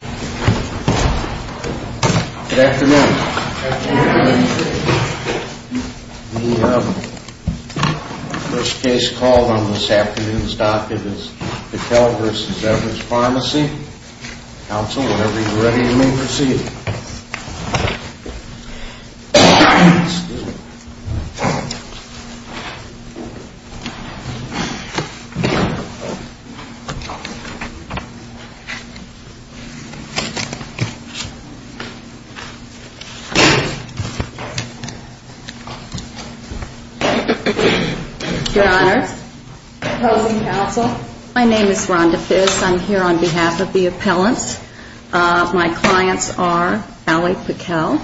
Good afternoon. The first case called on this afternoon's docket is Beckell v. Evers Pharmacy. Counsel, whenever you're ready, you may proceed. Your Honor, opposing counsel, my name is Rhonda Fiss. I'm here on behalf of the appellants. My clients are Allie Beckell,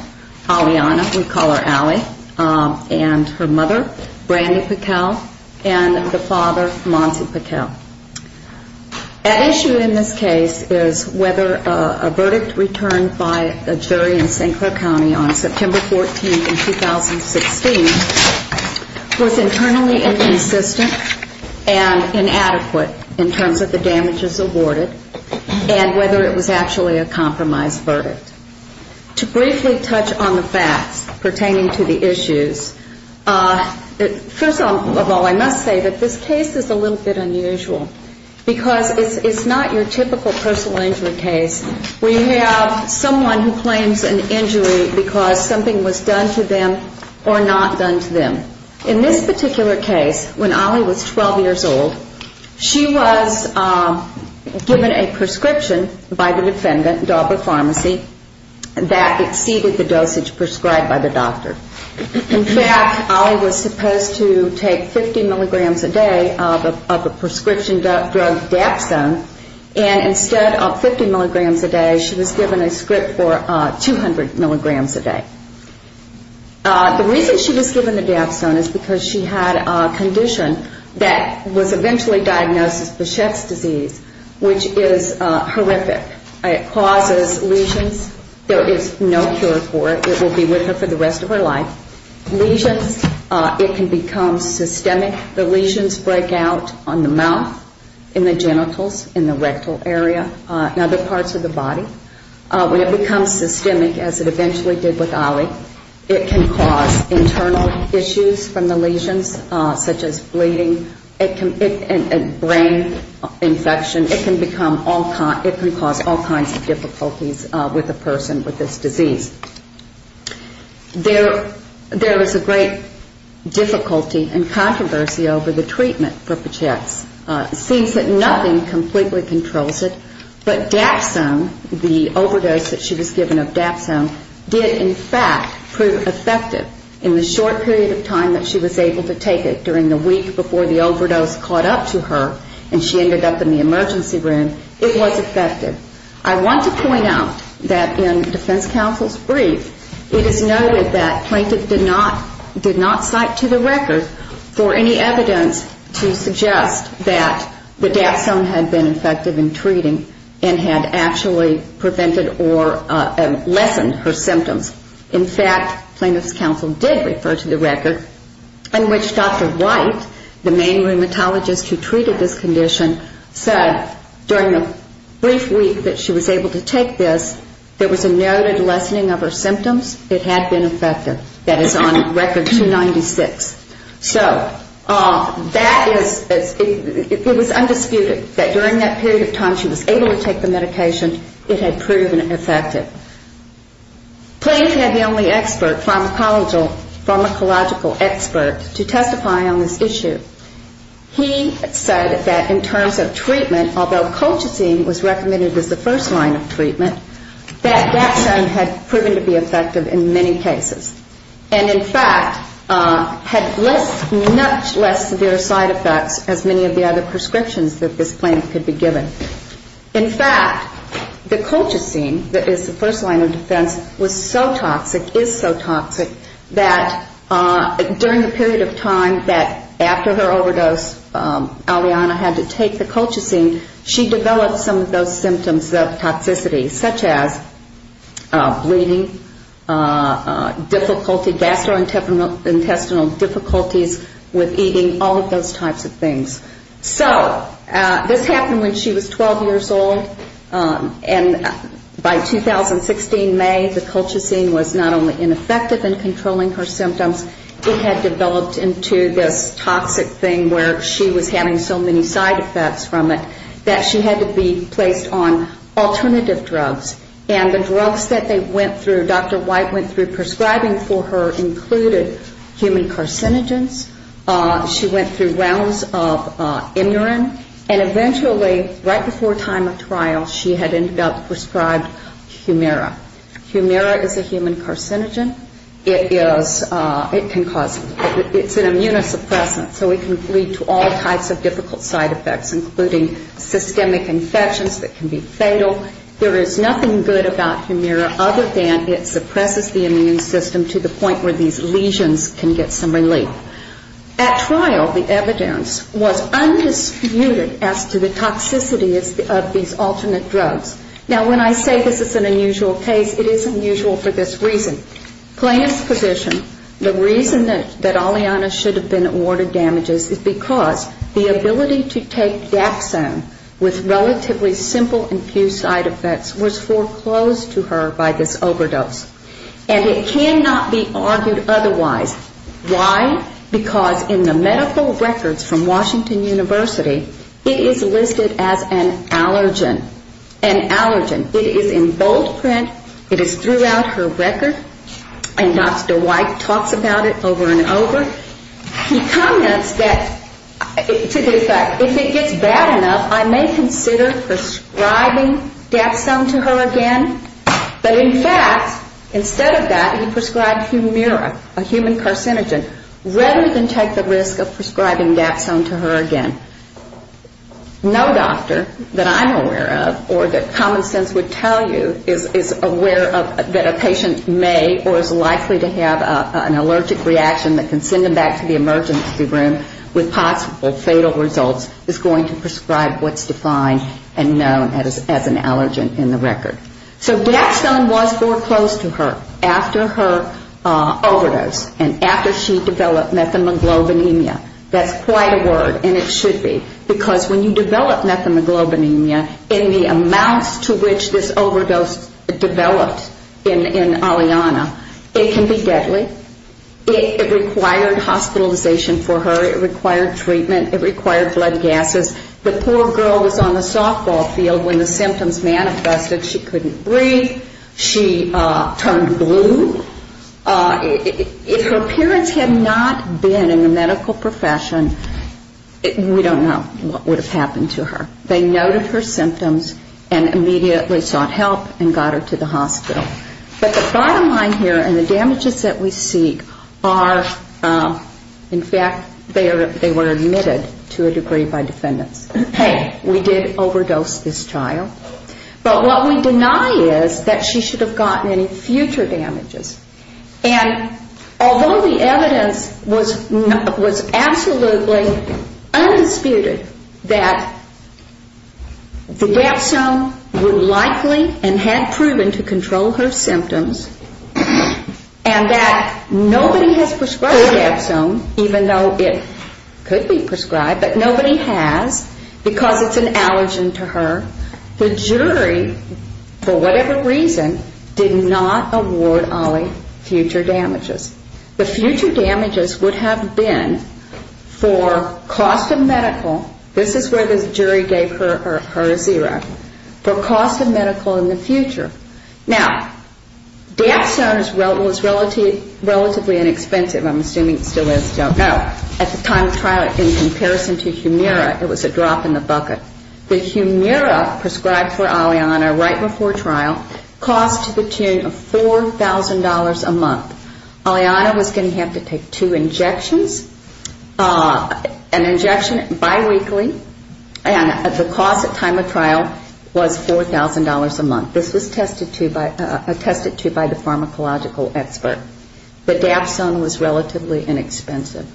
Aliana, we call her Allie, and her mother, Brandi Beckell, and the father, Monty Beckell. That issue in this case is whether a verdict returned by a jury in St. Clair County on September 14th in 2016 was internally inconsistent and inadequate in terms of the damages awarded and whether it was actually a compromised verdict. To briefly touch on the facts pertaining to the issues, first of all, I must say that this case is a little bit unusual because it's not your typical personal injury case where you have someone who claims an injury because something was done to them or not done to them. In this particular case, when Allie was 12 years old, she was given a prescription by the defendant, Dauber Pharmacy, that exceeded the dosage prescribed by the doctor. In fact, Allie was supposed to take 50 milligrams a day of a prescription drug, Dapsone, and instead of 50 milligrams a day, she was given a script for 200 milligrams a day. The reason she was given the Dapsone is because she had a condition that was eventually diagnosed as Bouchette's disease, which is horrific. It causes lesions. There is no cure for it. It will be with her for the rest of her life. Lesions, it can become systemic. The lesions break out on the mouth, in the genitals, in the rectal area, and other parts of the body. When it becomes systemic, as it eventually did with Allie, it can cause internal issues from the lesions, such as bleeding, brain infection. It can cause all kinds of difficulties with a person with this disease. There is a great difficulty and controversy over the treatment for Bouchette's. It seems that nothing completely controls it, but Dapsone, the overdose that she was given of Dapsone, did in fact prove effective in the short period of time that she was able to take it, during the week before the overdose caught up to her and she ended up in the emergency room, it was effective. I want to point out that in defense counsel's brief, it is noted that plaintiff did not cite to the record for any evidence to suggest that the Dapsone had been effective in treating and had actually prevented or lessened her symptoms. In fact, plaintiff's counsel did refer to the record in which Dr. White, the main rheumatologist who treated this condition, said during the brief week that she was able to take this, there was a noted lessening of her symptoms. It had been effective. That is on record 296. So that is, it was undisputed that during that period of time she was able to take the medication, it had proven effective. Plaintiff had the only expert, pharmacological expert, to testify on this issue. He said that in terms of treatment, although Colchicine was recommended as the first line of treatment, that Dapsone had proven to be effective in many cases. And in fact, had less, much less severe side effects as many of the other prescriptions that this plaintiff could be given. In fact, the Colchicine that is the first line of defense was so toxic, is so toxic, that during the period of time that after her overdose, Aliana had to take the Colchicine, she developed some of those symptoms of toxicity, such as bleeding, difficulty, gastrointestinal difficulties with eating, all of those types of things. So this happened when she was 12 years old. And by 2016 May, the Colchicine was not only ineffective in controlling her symptoms, it had developed into this toxic thing where she was having so many side effects from it, that she had to be placed on alternative drugs. And the drugs that they went through, Dr. White went through prescribing for her included human carcinogens, she went through rounds of Imurin, and eventually, right before time of trial, she had ended up prescribed Humira. Humira is a human carcinogen. It is, it can cause, it's an immunosuppressant, so it can lead to all types of difficult side effects, including systemic infections that can be fatal. There is nothing good about Humira other than it suppresses the immune system to the point where these lesions can get some relief. At trial, the evidence was undisputed as to the toxicity of these alternate drugs. Now, when I say this is an unusual case, it is unusual for this reason. Plaintiff's position, the reason that Aliana should have been awarded damages is because the ability to take Daxone with relatively simple and few side effects was foreclosed to her by this overdose. And it cannot be argued otherwise. Why? Because in the medical records from Washington University, it is listed as an allergen, an allergen. It is in bold print. It is throughout her record. And Dr. White talks about it over and over. He comments that, to the effect, if it gets bad enough, I may consider prescribing Daxone to her again. But in fact, instead of that, he prescribed Humira, a human carcinogen, rather than take the risk of prescribing Daxone to her again. No doctor that I'm aware of or that common sense would tell you is aware of that a patient may or is likely to have an allergic reaction that can send them back to the emergency room with possible fatal results is going to prescribe what's defined and known as an allergen in the record. So Daxone was foreclosed to her after her overdose and after she developed methamoglobinemia. That's quite a word, and it should be noted. Because when you develop methamoglobinemia in the amounts to which this overdose developed in Aliana, it can be deadly. It required hospitalization for her. It required treatment. It required blood gasses. The poor girl was on the softball field when the symptoms manifested. She couldn't breathe. She turned blue. If her parents had not been in the medical profession, we don't know what would have happened. They noted her symptoms and immediately sought help and got her to the hospital. But the bottom line here and the damages that we see are, in fact, they were admitted to a degree by defendants. Hey, we did overdose this child. But what we deny is that she should have gotten any future damages. And although the evidence was absolutely undisputed, it was not the case. It was undisputed that the Daxone would likely and had proven to control her symptoms and that nobody has prescribed the Daxone, even though it could be prescribed, but nobody has because it's an allergen to her. The jury, for whatever reason, did not award Ollie future damages. The future damages would have been for cost of medical, this is where the jury gave her a zero, for cost of medical in the future. Now, Daxone was relatively inexpensive, I'm assuming it still is, I don't know. At the time of trial, in comparison to Humira, it was a drop in the bucket. The Humira prescribed for Aliana right before trial cost to the tune of $4,000 a month. Aliana was going to have to take two injections, an injection biweekly, and the cost at time of trial was $4,000 a month. This was attested to by the pharmacological expert. But Daxone was relatively inexpensive.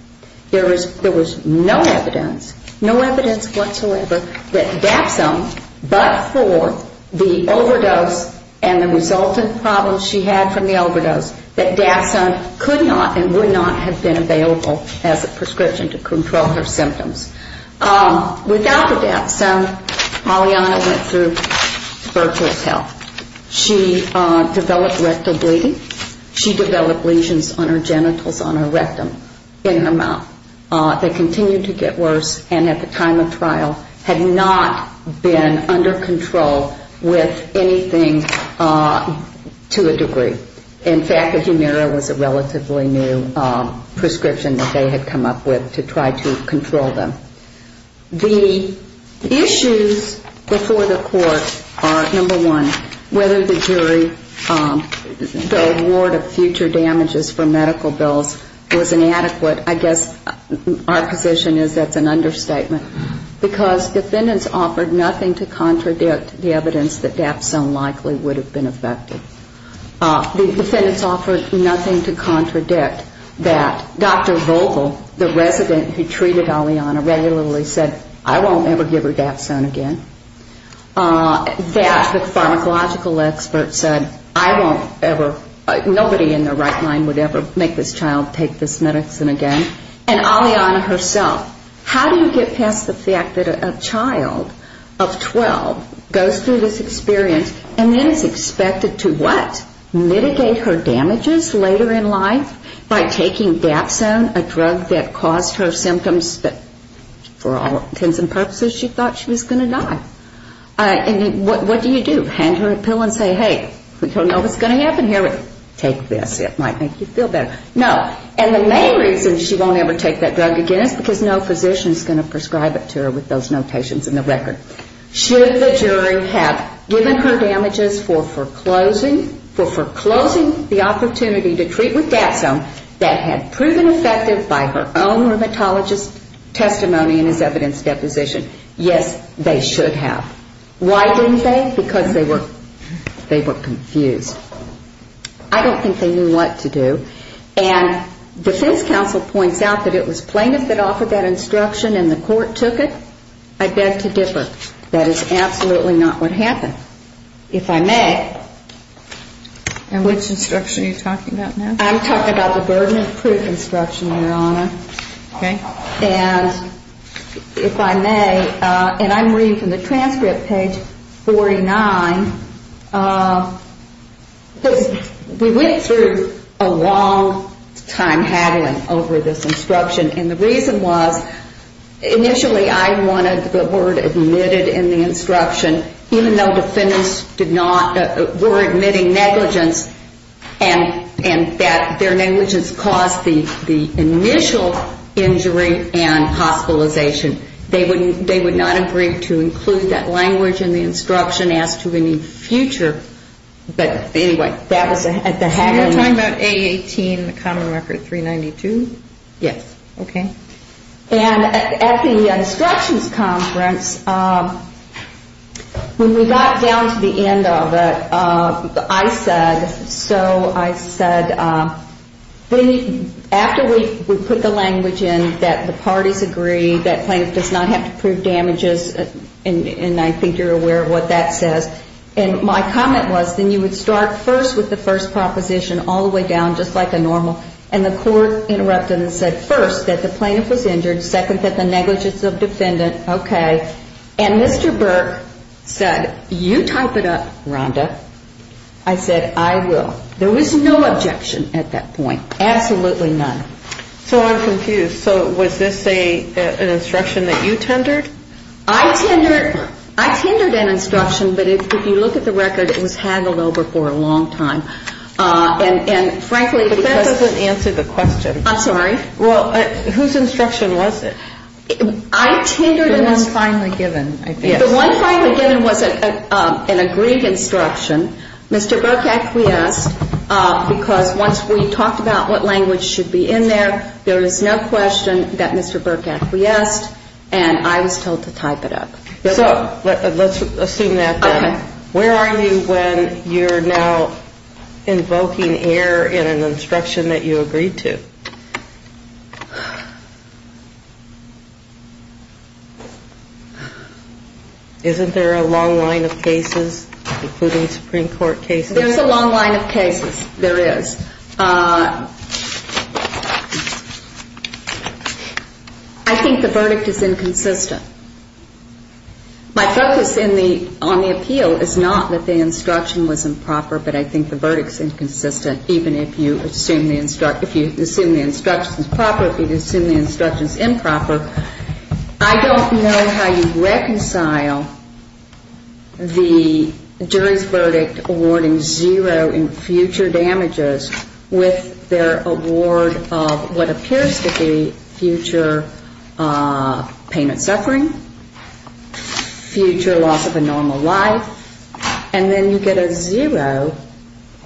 There was no evidence, no evidence whatsoever that Daxone, but for the overdose and the resultant problems she had from the overdose, that Daxone could control her symptoms. She could not and would not have been available as a prescription to control her symptoms. Without the Daxone, Aliana went through virtual health. She developed rectal bleeding. She developed lesions on her genitals, on her rectum, in her mouth. They continued to get worse and at the time of trial had not been under control with anything to a degree. In fact, the Humira was a relatively new prescription that they had come up with to try to control them. The issues before the court are, number one, whether the jury, the award of future damages for medical bills was inadequate. I guess our position is that's an understatement because defendants offered nothing to contradict the evidence that Daxone likely would have been effective. The defendants offered nothing to contradict that Dr. Vogel, the resident who treated Aliana, regularly said, I won't ever give her Daxone again. That the pharmacological expert said, I won't ever, nobody in their right mind would ever make this child take this medicine again. And Aliana herself, how do you get past the fact that a child of 12 goes through this experience and then is expected to die? Mitigate her damages later in life by taking Daxone, a drug that caused her symptoms that for all intents and purposes she thought she was going to die. And what do you do? Hand her a pill and say, hey, we don't know what's going to happen here, but take this, it might make you feel better. No, and the main reason she won't ever take that drug again is because no physician is going to prescribe it to her with those notations in the record. Should the jury have given her damages for foreclosing the opportunity to treat with Daxone that had proven effective by her own rheumatologist's testimony and his evidence deposition? Yes, they should have. Why didn't they? Because they were confused. I don't think they knew what to do. And defense counsel points out that it was plaintiffs that offered that instruction and the court took it. I beg to differ. That is absolutely not what happened. If I may. And which instruction are you talking about now? I'm talking about the burden of proof instruction, Your Honor. And if I may, and I'm reading from the transcript, page 49, because we went through a long time of haggling over this instruction, and the reason was initially I wanted the word admitted in the instruction, even though defendants were admitting negligence and that their negligence caused the initial injury and hospitalization. They would not agree to include that language in the instruction as to any future, but anyway, that was the haggling. And you're talking about A18, the common record 392? Yes. Okay. And at the instructions conference, when we got down to the end of it, I said, so I said, after we put the language in that the parties agree, that plaintiff does not have to prove damages, and I think you're aware of what that says. And my comment was, then you would start first with the first proposition all the way down, just like a normal, and the court interrupted and said, first, that the plaintiff was injured, second, that the negligence of defendant. Okay. And Mr. Burke said, you type it up, Rhonda. I said, I will. There was no objection at that point. Absolutely none. So I'm confused. So was this an instruction that you tendered? I tendered an instruction, but if you look at the record, it was haggled over for a long time. And frankly, because But that doesn't answer the question. I'm sorry? Well, whose instruction was it? The one finally given, I think. The one finally given was an agreed instruction. Mr. Burke acquiesced, because once we talked about what language should be in there, there is no question that Mr. Burke acquiesced. And I was told to type it up. So let's assume that then. Where are you when you're now invoking error in an instruction that you agreed to? Isn't there a long line of cases, including Supreme Court cases? There's a long line of cases. There is. I think the verdict is inconsistent. My focus on the appeal is not that the instruction was improper, but I think the verdict is inconsistent, even if you assume the instruction is proper. If you assume the instruction is improper, I don't know how you reconcile the jury's verdict awarding zero in future damages with the jury's verdict awarding zero in future damages. With their award of what appears to be future payment suffering, future loss of a normal life, and then you get a zero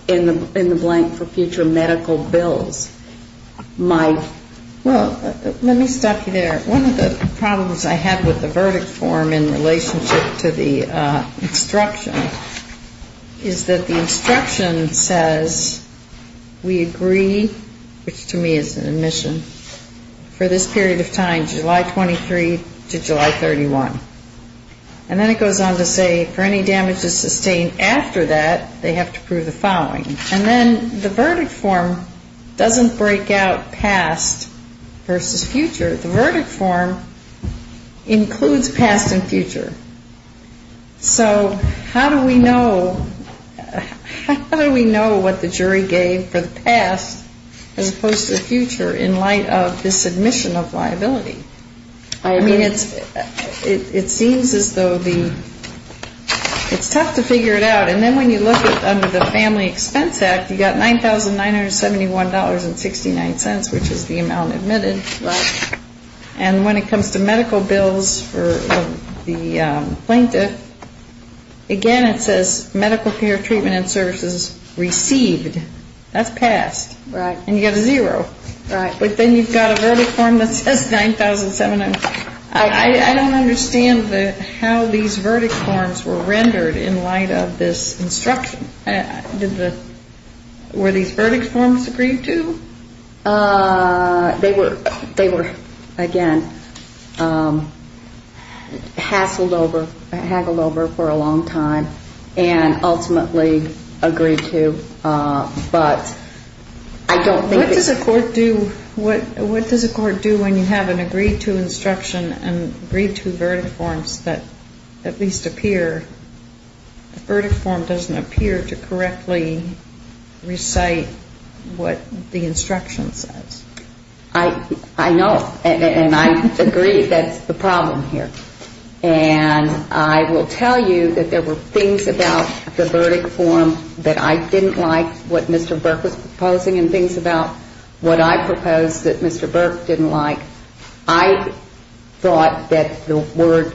in the blank for future medical bills. Well, let me stop you there. One of the problems I have with the verdict form in relationship to the instruction is that the instruction says we agree to the verdict. We agree, which to me is an admission, for this period of time, July 23 to July 31. And then it goes on to say for any damages sustained after that, they have to prove the following. And then the verdict form doesn't break out past versus future. So how do we know what the jury gave for the past as opposed to the future in light of this admission of liability? I mean, it seems as though it's tough to figure it out. And then when you look at under the Family Expense Act, you've got $9,971.69, which is the amount admitted. And when it comes to medical bills for the plaintiff, again, it says medical care treatment and services received. That's passed. And you get a zero. But then you've got a verdict form that says 9,700. I don't understand how these verdict forms were rendered in light of this instruction. Were these verdict forms agreed to? They were, again, hassled over, haggled over for a long time and ultimately agreed to. But I don't think it's ---- What does a court do when you have an agreed to instruction and agreed to verdict forms that at least appear? The verdict form doesn't appear to correctly recite what the instruction says. I know. And I agree that's the problem here. And I will tell you that there were things about the verdict form that I didn't like, what Mr. Burke was proposing, and things about what I proposed that Mr. Burke didn't like. I thought that the word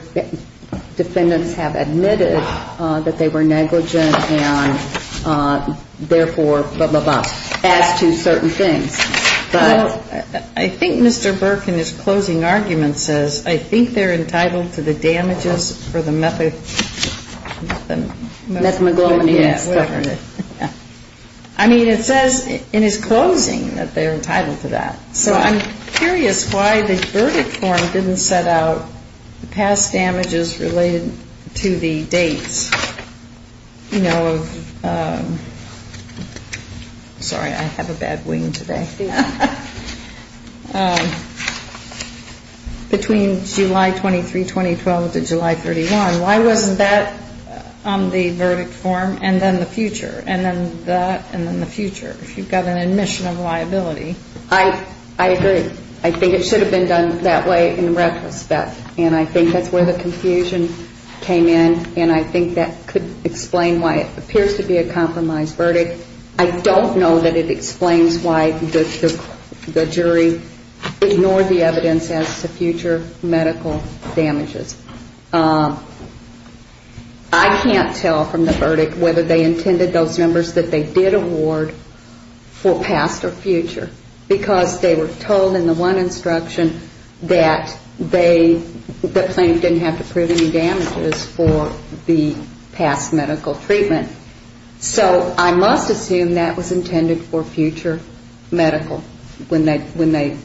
defendants have admitted that they were negligent and therefore blah, blah, blah, as to certain things. I think Mr. Burke in his closing argument says I think they're entitled to the damages for the methadone. Methamphetamine. I mean, it says in his closing that they're entitled to that. So I'm curious why the verdict form didn't set out the past damages related to the dates. Sorry, I have a bad wing today. Between July 23, 2012 to July 31. Why wasn't that on the verdict form and then the future and then that and then the future if you've got an admission of liability? I agree. I think it should have been done that way in retrospect. And I think that's where the confusion came in, and I think that could explain why it appears to be a compromised verdict. I don't know that it explains why the jury ignored the evidence as to future medical damages. I can't tell from the verdict whether they intended those numbers that they did award for past or future. Because they were told in the one instruction that they didn't have to prove any damages for the past medical treatment. So I must assume that was intended for future medical when they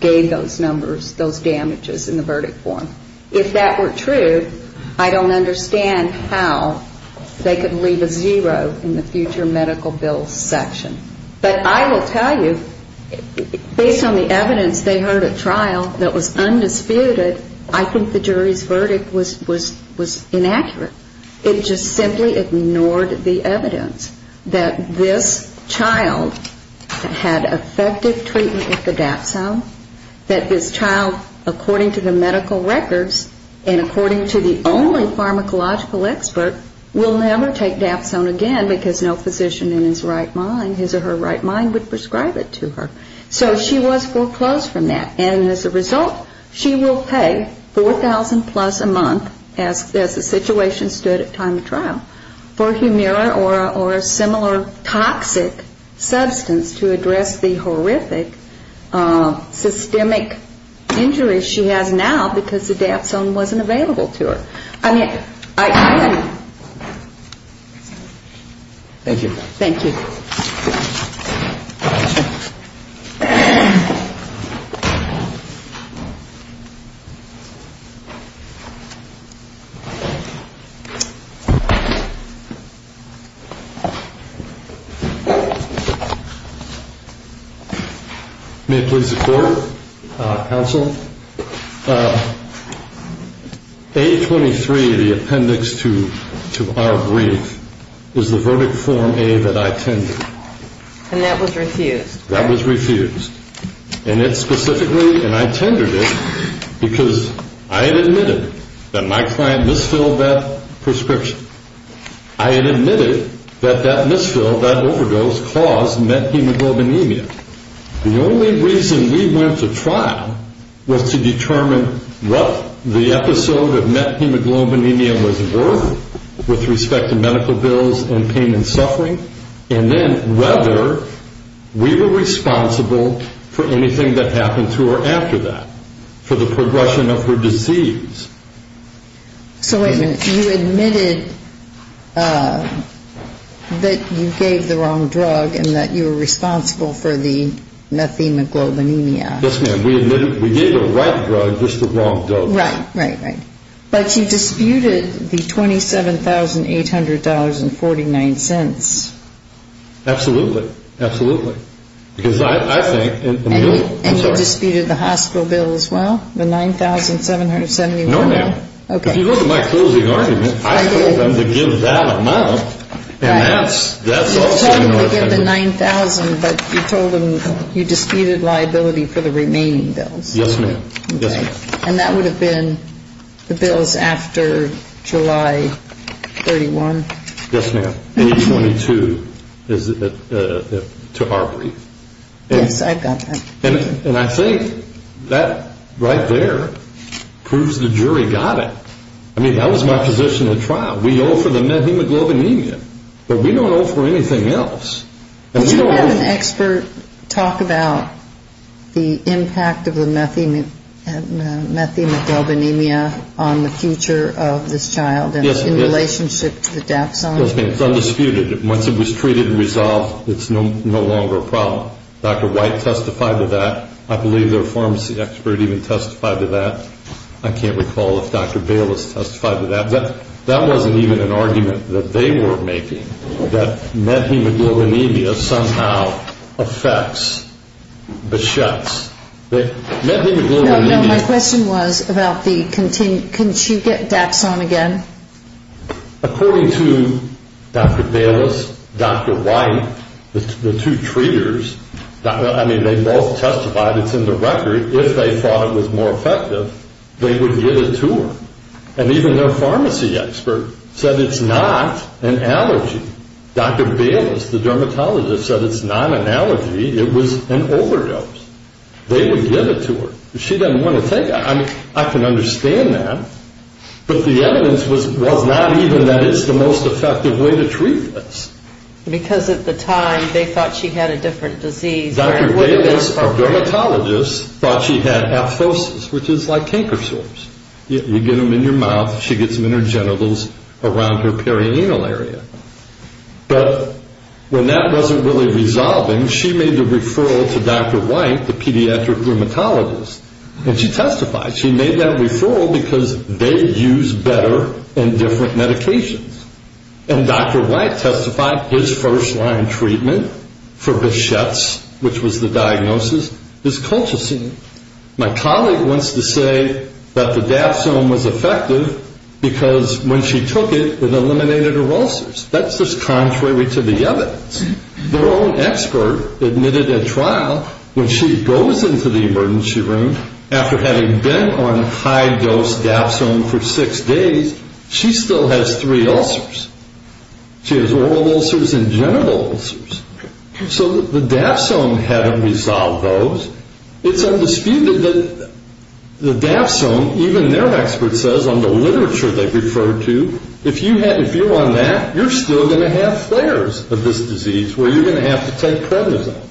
gave those numbers, those damages in the verdict form. If that were true, I don't understand how they could leave a zero in the future medical bill section. But I will tell you, based on the evidence they heard at trial that was undisputed, I think the jury's verdict was inaccurate. It just simply ignored the evidence that this child had effective treatment with the Dapsone, that this child, according to the medical records, and according to the only pharmacological expert, will never take Dapsone again because no physician in his right mind, his or her right mind, would prescribe it to her. So she was foreclosed from that, and as a result, she will pay $4,000 plus a month, as the situation stood at time of trial, for Humira or a similar toxic substance to address the horrific systemic injury she has now because the Dapsone was prescribed. And because the Dapsone wasn't available to her. I mean, I don't know. Thank you. Thank you. May it please the Court, Counsel, A23, the appendix to our brief, is the verdict form A23, and that was refused. That was refused, and it specifically, and I tendered it because I had admitted that my client misfilled that prescription. I had admitted that that misfill, that overdose, caused methemoglobinemia. The only reason we went to trial was to determine what the episode of methemoglobinemia was worth with respect to medical bills and pain and suffering, and then whether we were responsible for anything that happened to her after that, for the progression of her disease. So wait a minute. You admitted that you gave the wrong drug and that you were responsible for the methemoglobinemia. Yes, ma'am. And we admitted, we gave the right drug, just the wrong dose. Right, right, right. But you disputed the $27,800.49. Absolutely. Absolutely. Because I think... And you disputed the hospital bill as well, the $9,771? No, ma'am. If you look at my closing argument, I told them to give that amount, and that's... You told them to give the $9,000, but you told them you disputed liability for the remaining bills. Yes, ma'am. And that would have been the bills after July 31? Yes, ma'am. And I think that right there proves the jury got it. We owe for the methemoglobinemia, but we don't owe for anything else. Did you have an expert talk about the impact of the methemoglobinemia on the future of this child in relationship to the Dapsone? Yes, ma'am. It's undisputed. Once it was treated and resolved, it's no longer a problem. Dr. White testified to that. I believe their pharmacy expert even testified to that. I can't recall if Dr. Bayless testified to that. That wasn't even an argument that they were making, that methemoglobinemia somehow affects the shots. No, no, my question was about the... Can she get Dapsone again? According to Dr. Bayless, Dr. White, the two treaters, I mean, they both testified, it's in the record, if they thought it was more effective, they would get it to her. And even their pharmacy expert said it's not an allergy. Dr. Bayless, the dermatologist, said it's not an allergy, it was an overdose. They would give it to her. I mean, I can understand that, but the evidence was not even that it's the most effective way to treat this. Because at the time, they thought she had a different disease. Dr. Bayless, our dermatologist, thought she had aphosis, which is like canker sores. You get them in your mouth, she gets them in her genitals around her perianal area. But when that wasn't really resolving, she made the referral to Dr. White, the pediatric dermatologist, and she testified. She made that referral because they use better and different medications. And Dr. White testified his first-line treatment for Bichette's, which was the diagnosis, is Colchicine. My colleague wants to say that the Dapsone was effective because when she took it, it eliminated her ulcers. That's just contrary to the evidence. Their own expert admitted at trial, when she goes into the emergency room, after having been on high-dose Dapsone for six days, she still has three ulcers. She has oral ulcers and genital ulcers. So the Dapsone hadn't resolved those. It's undisputed that the Dapsone, even their expert says on the literature they refer to, if you're on that, you're still going to have flares of this disease where you're going to have to take prednisone.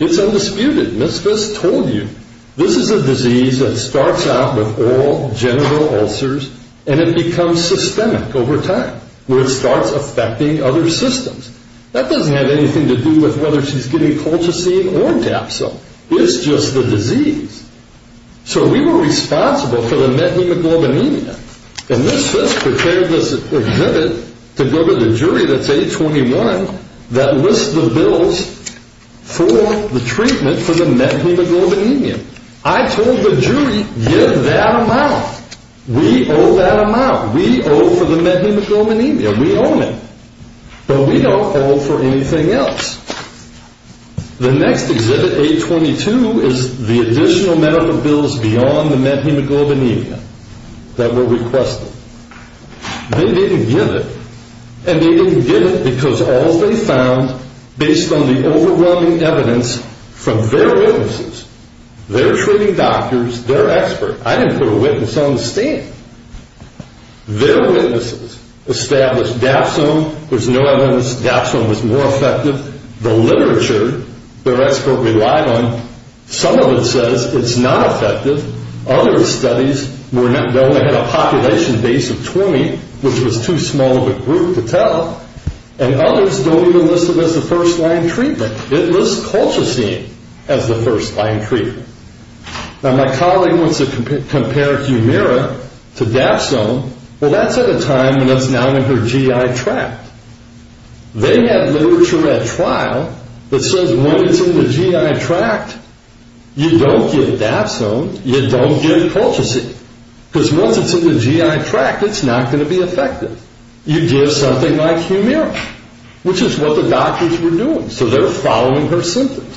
It's undisputed. Ms. Fitz told you. This is a disease that starts out with oral, genital ulcers and it becomes systemic over time where it starts affecting other systems. That doesn't have anything to do with whether she's getting Colchicine or Dapsone. It's just the disease. So we were responsible for the methemoglobinemia. And Ms. Fitz prepared this exhibit to go to the jury that's 821 that lists the bills for the treatment for the methemoglobinemia. I told the jury, give that amount. We owe that amount. We owe for the methemoglobinemia. We own it. But we don't owe for anything else. The next exhibit, 822, is the additional medical bills beyond the methemoglobinemia that were requested. They didn't give it. And they didn't give it because all they found, based on the overwhelming evidence from their witnesses, their treating doctors, their expert, I didn't put a witness on the stand. Their witnesses established Dapsone was no evidence. Dapsone was more effective. The literature their expert relied on, some of it says it's not effective. Other studies, they only had a population base of 20, which was too small of a group to tell. And others don't even list it as a first-line treatment. It lists Colchicine as the first-line treatment. Now, my colleague wants to compare Humira to Dapsone. Well, that's at a time when that's now in her GI tract. They had literature at trial that says when it's in the GI tract, you don't give Dapsone, you don't give Colchicine. Because once it's in the GI tract, it's not going to be effective. You give something like Humira, which is what the doctors were doing. So they're following her symptoms.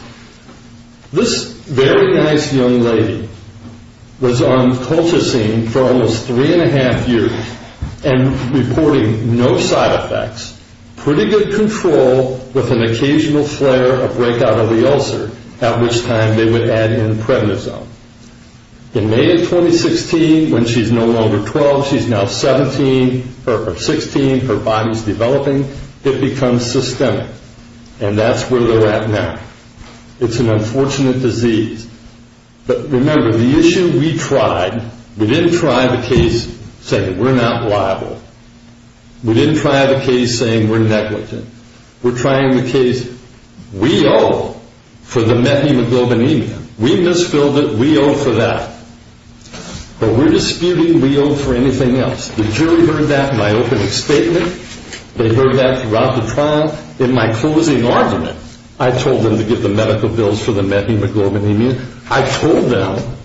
This very nice young lady was on Colchicine for almost three and a half years and reporting no side effects, pretty good control, with an occasional flare, a breakout of the ulcer, at which time they would add in Prednisone. In May of 2016, when she's no longer 12, she's now 16, her body's developing, it becomes systemic. And that's where they're at now. It's an unfortunate disease. But remember, the issue we tried, we didn't try the case saying we're not liable. We didn't try the case saying we're negligent. We're trying the case, we owe for the methemoglobinemia. We misfilled it. We owe for that. But we're disputing we owe for anything else. The jury heard that in my opening statement. They heard that throughout the trial. In my closing argument, I told them to give the medical bills for the methemoglobinemia. I told them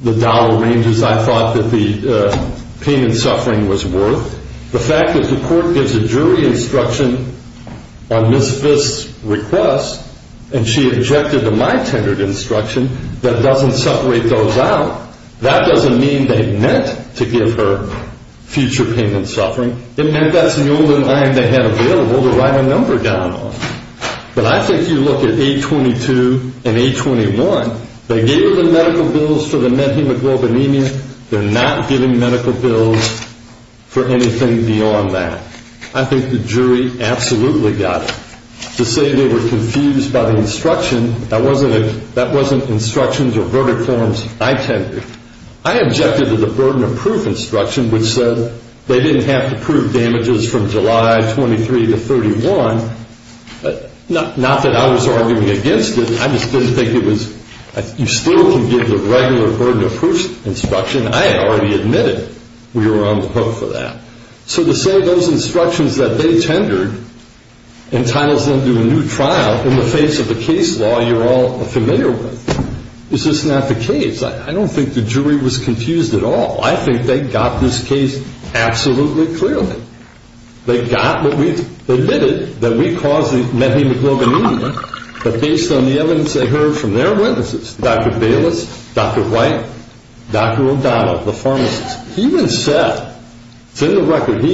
the dollar ranges I thought that the pain and suffering was worth. The fact that the court gives a jury instruction on Ms. Fisk's request, and she objected to my tendered instruction, that doesn't separate those out. That doesn't mean they meant to give her future pain and suffering. It meant that's the only line they had available to write a number down on. But I think you look at A22 and A21. They gave her the medical bills for the methemoglobinemia. They're not giving medical bills for anything beyond that. I think the jury absolutely got it. To say they were confused by the instruction, that wasn't instructions or verdict forms I tendered. I objected to the burden of proof instruction, which said they didn't have to prove damages from July 23 to 31. Not that I was arguing against it. I just didn't think it was you still can give the regular burden of proof instruction. I had already admitted we were on the hook for that. So to say those instructions that they tendered entitles them to a new trial in the face of the case law you're all familiar with. Is this not the case? I don't think the jury was confused at all. I think they got this case absolutely clearly. They admitted that we caused the methemoglobinemia. But based on the evidence they heard from their witnesses, Dr. Bayless, Dr. White, Dr. O'Donnell, the pharmacist, he even said, it's in the record.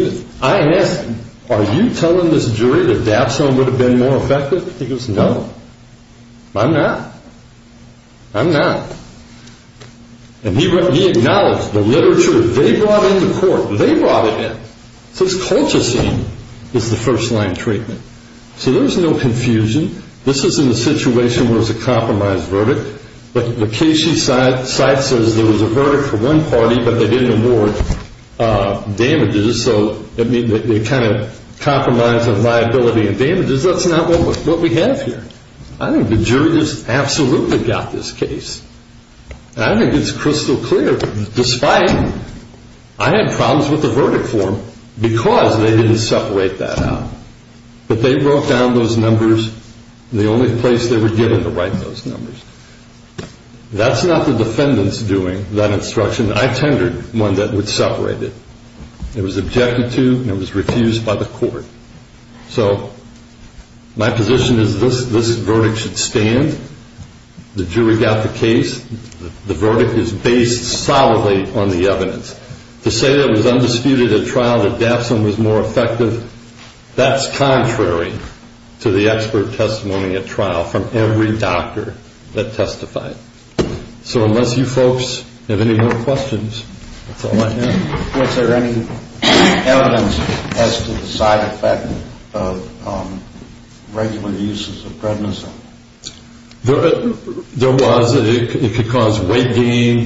I asked him, are you telling this jury that Dapsone would have been more effective? He goes, no, I'm not, I'm not. And he acknowledged the literature they brought into court, they brought it in. It says Colchicine is the first line treatment. So there's no confusion. This isn't a situation where it's a compromised verdict. But the case she cites says there was a verdict for one party, but they didn't award damages. So they kind of compromised on liability and damages. That's not what we have here. I think the jury just absolutely got this case. And I think it's crystal clear, despite, I had problems with the verdict form because they didn't separate that out. But they wrote down those numbers, and the only place they were given to write those numbers. That's not the defendant's doing, that instruction. I tendered one that would separate it. It was objected to and it was refused by the court. So my position is this verdict should stand. The jury got the case. The verdict is based solidly on the evidence. To say it was undisputed at trial, that Dapsone was more effective, that's contrary to the expert testimony at trial from every doctor that testified. So unless you folks have any more questions, that's all I have. Was there any evidence as to the side effect of regular uses of prednisone? There was. It could cause weight gain.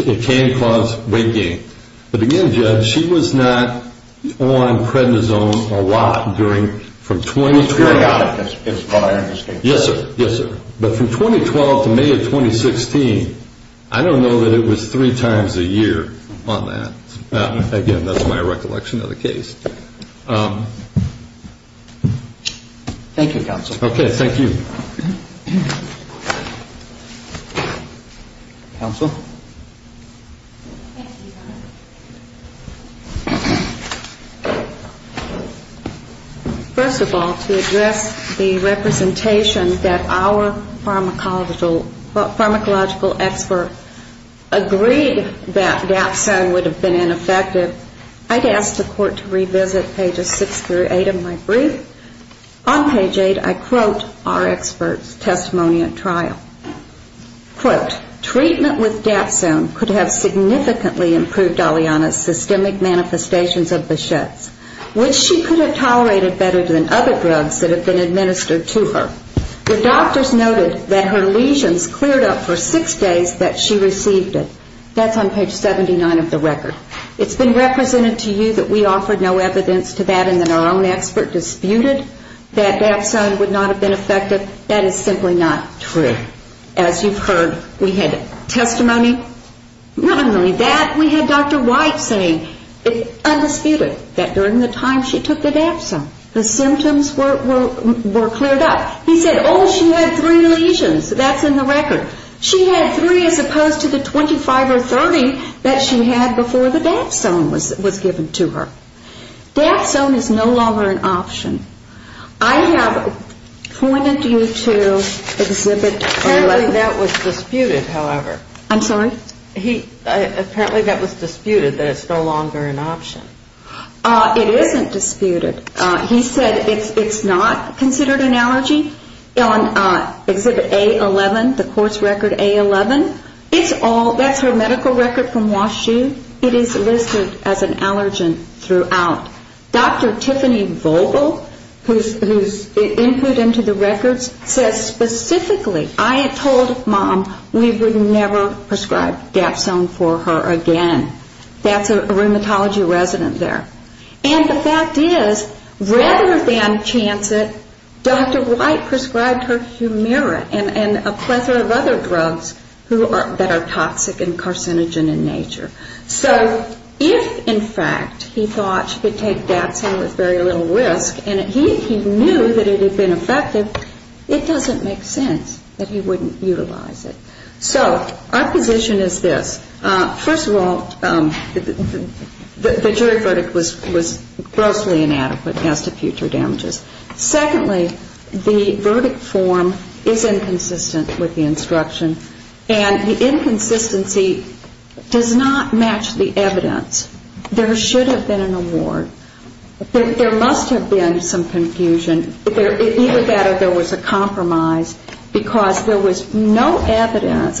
It can cause weight gain. But again, Judge, she was not on prednisone a lot from 2012. Periodic. Yes, sir. But from 2012 to May of 2016, I don't know that it was three times a year on that. Thank you, counsel. Okay. Thank you. Counsel? First of all, to address the representation that our pharmacological expert agreed that Dapsone would have been ineffective, I'd ask the court to revisit pages 6 through 8 of my brief. On page 8, I quote our expert's testimony at trial. Quote, treatment with Dapsone could have significantly improved Aliana's systemic manifestations of Bichette's, which she could have tolerated better than other drugs that had been administered to her. The doctors noted that her lesions cleared up for six days that she received it. That's on page 79 of the record. It's been represented to you that we offered no evidence to that and that our own expert disputed that Dapsone would not have been effective. That is simply not true. As you've heard, we had testimony not only that, we had Dr. White saying undisputed that during the time she took the Dapsone, the symptoms were cleared up. He said, oh, she had three lesions. That's in the record. She had three as opposed to the 25 or 30 that she had before the Dapsone was given to her. Dapsone is no longer an option. I have pointed you to exhibit. Apparently that was disputed, however. I'm sorry? Apparently that was disputed, that it's no longer an option. It isn't disputed. He said it's not considered an allergy. Exhibit A11, the court's record A11. That's her medical record from Wash U. It is listed as an allergen throughout. Dr. Tiffany Vogel, whose input into the records says specifically, I had told mom we would never prescribe Dapsone for her again. That's a rheumatology resident there. And the fact is, rather than chance it, Dr. White prescribed her Humira and a plethora of other drugs that are toxic and carcinogen in nature. So if, in fact, he thought she could take Dapsone with very little risk, and he knew that it had been effective, it doesn't make sense that he wouldn't utilize it. So our position is this. First of all, the jury verdict was grossly inadequate as to future damages. Secondly, the verdict form is inconsistent with the instruction, and the inconsistency does not match the evidence. There should have been an award. There must have been some confusion. Either that or there was a compromise, because there was no evidence.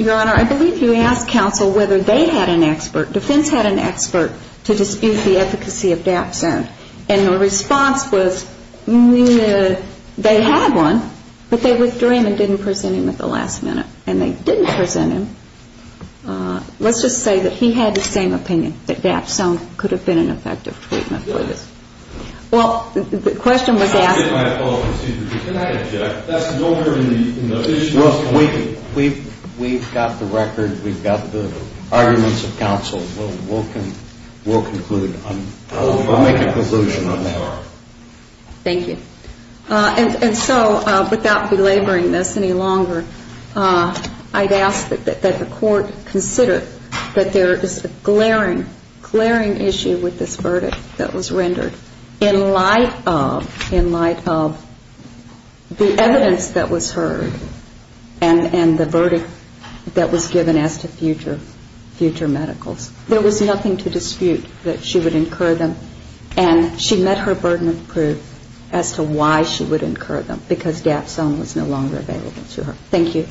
Your Honor, I believe you asked counsel whether they had an expert, defense had an expert, to dispute the efficacy of Dapsone. And the response was they had one, but they withdrew him and didn't present him at the last minute. And they didn't present him. Let's just say that he had the same opinion, that Dapsone could have been an effective treatment for this. Well, the question was asked... We've got the record. We've got the arguments of counsel. We'll make a conclusion on that. Thank you. And so without belaboring this any longer, I'd ask that the court consider that there is a glaring, glaring issue with this verdict that was rendered in light of the evidence that was heard and the verdict that was given as to future medicals. There was nothing to dispute that she would incur them, and she met her burden of proof as to why she would incur them, because Dapsone was no longer available to her. Thank you.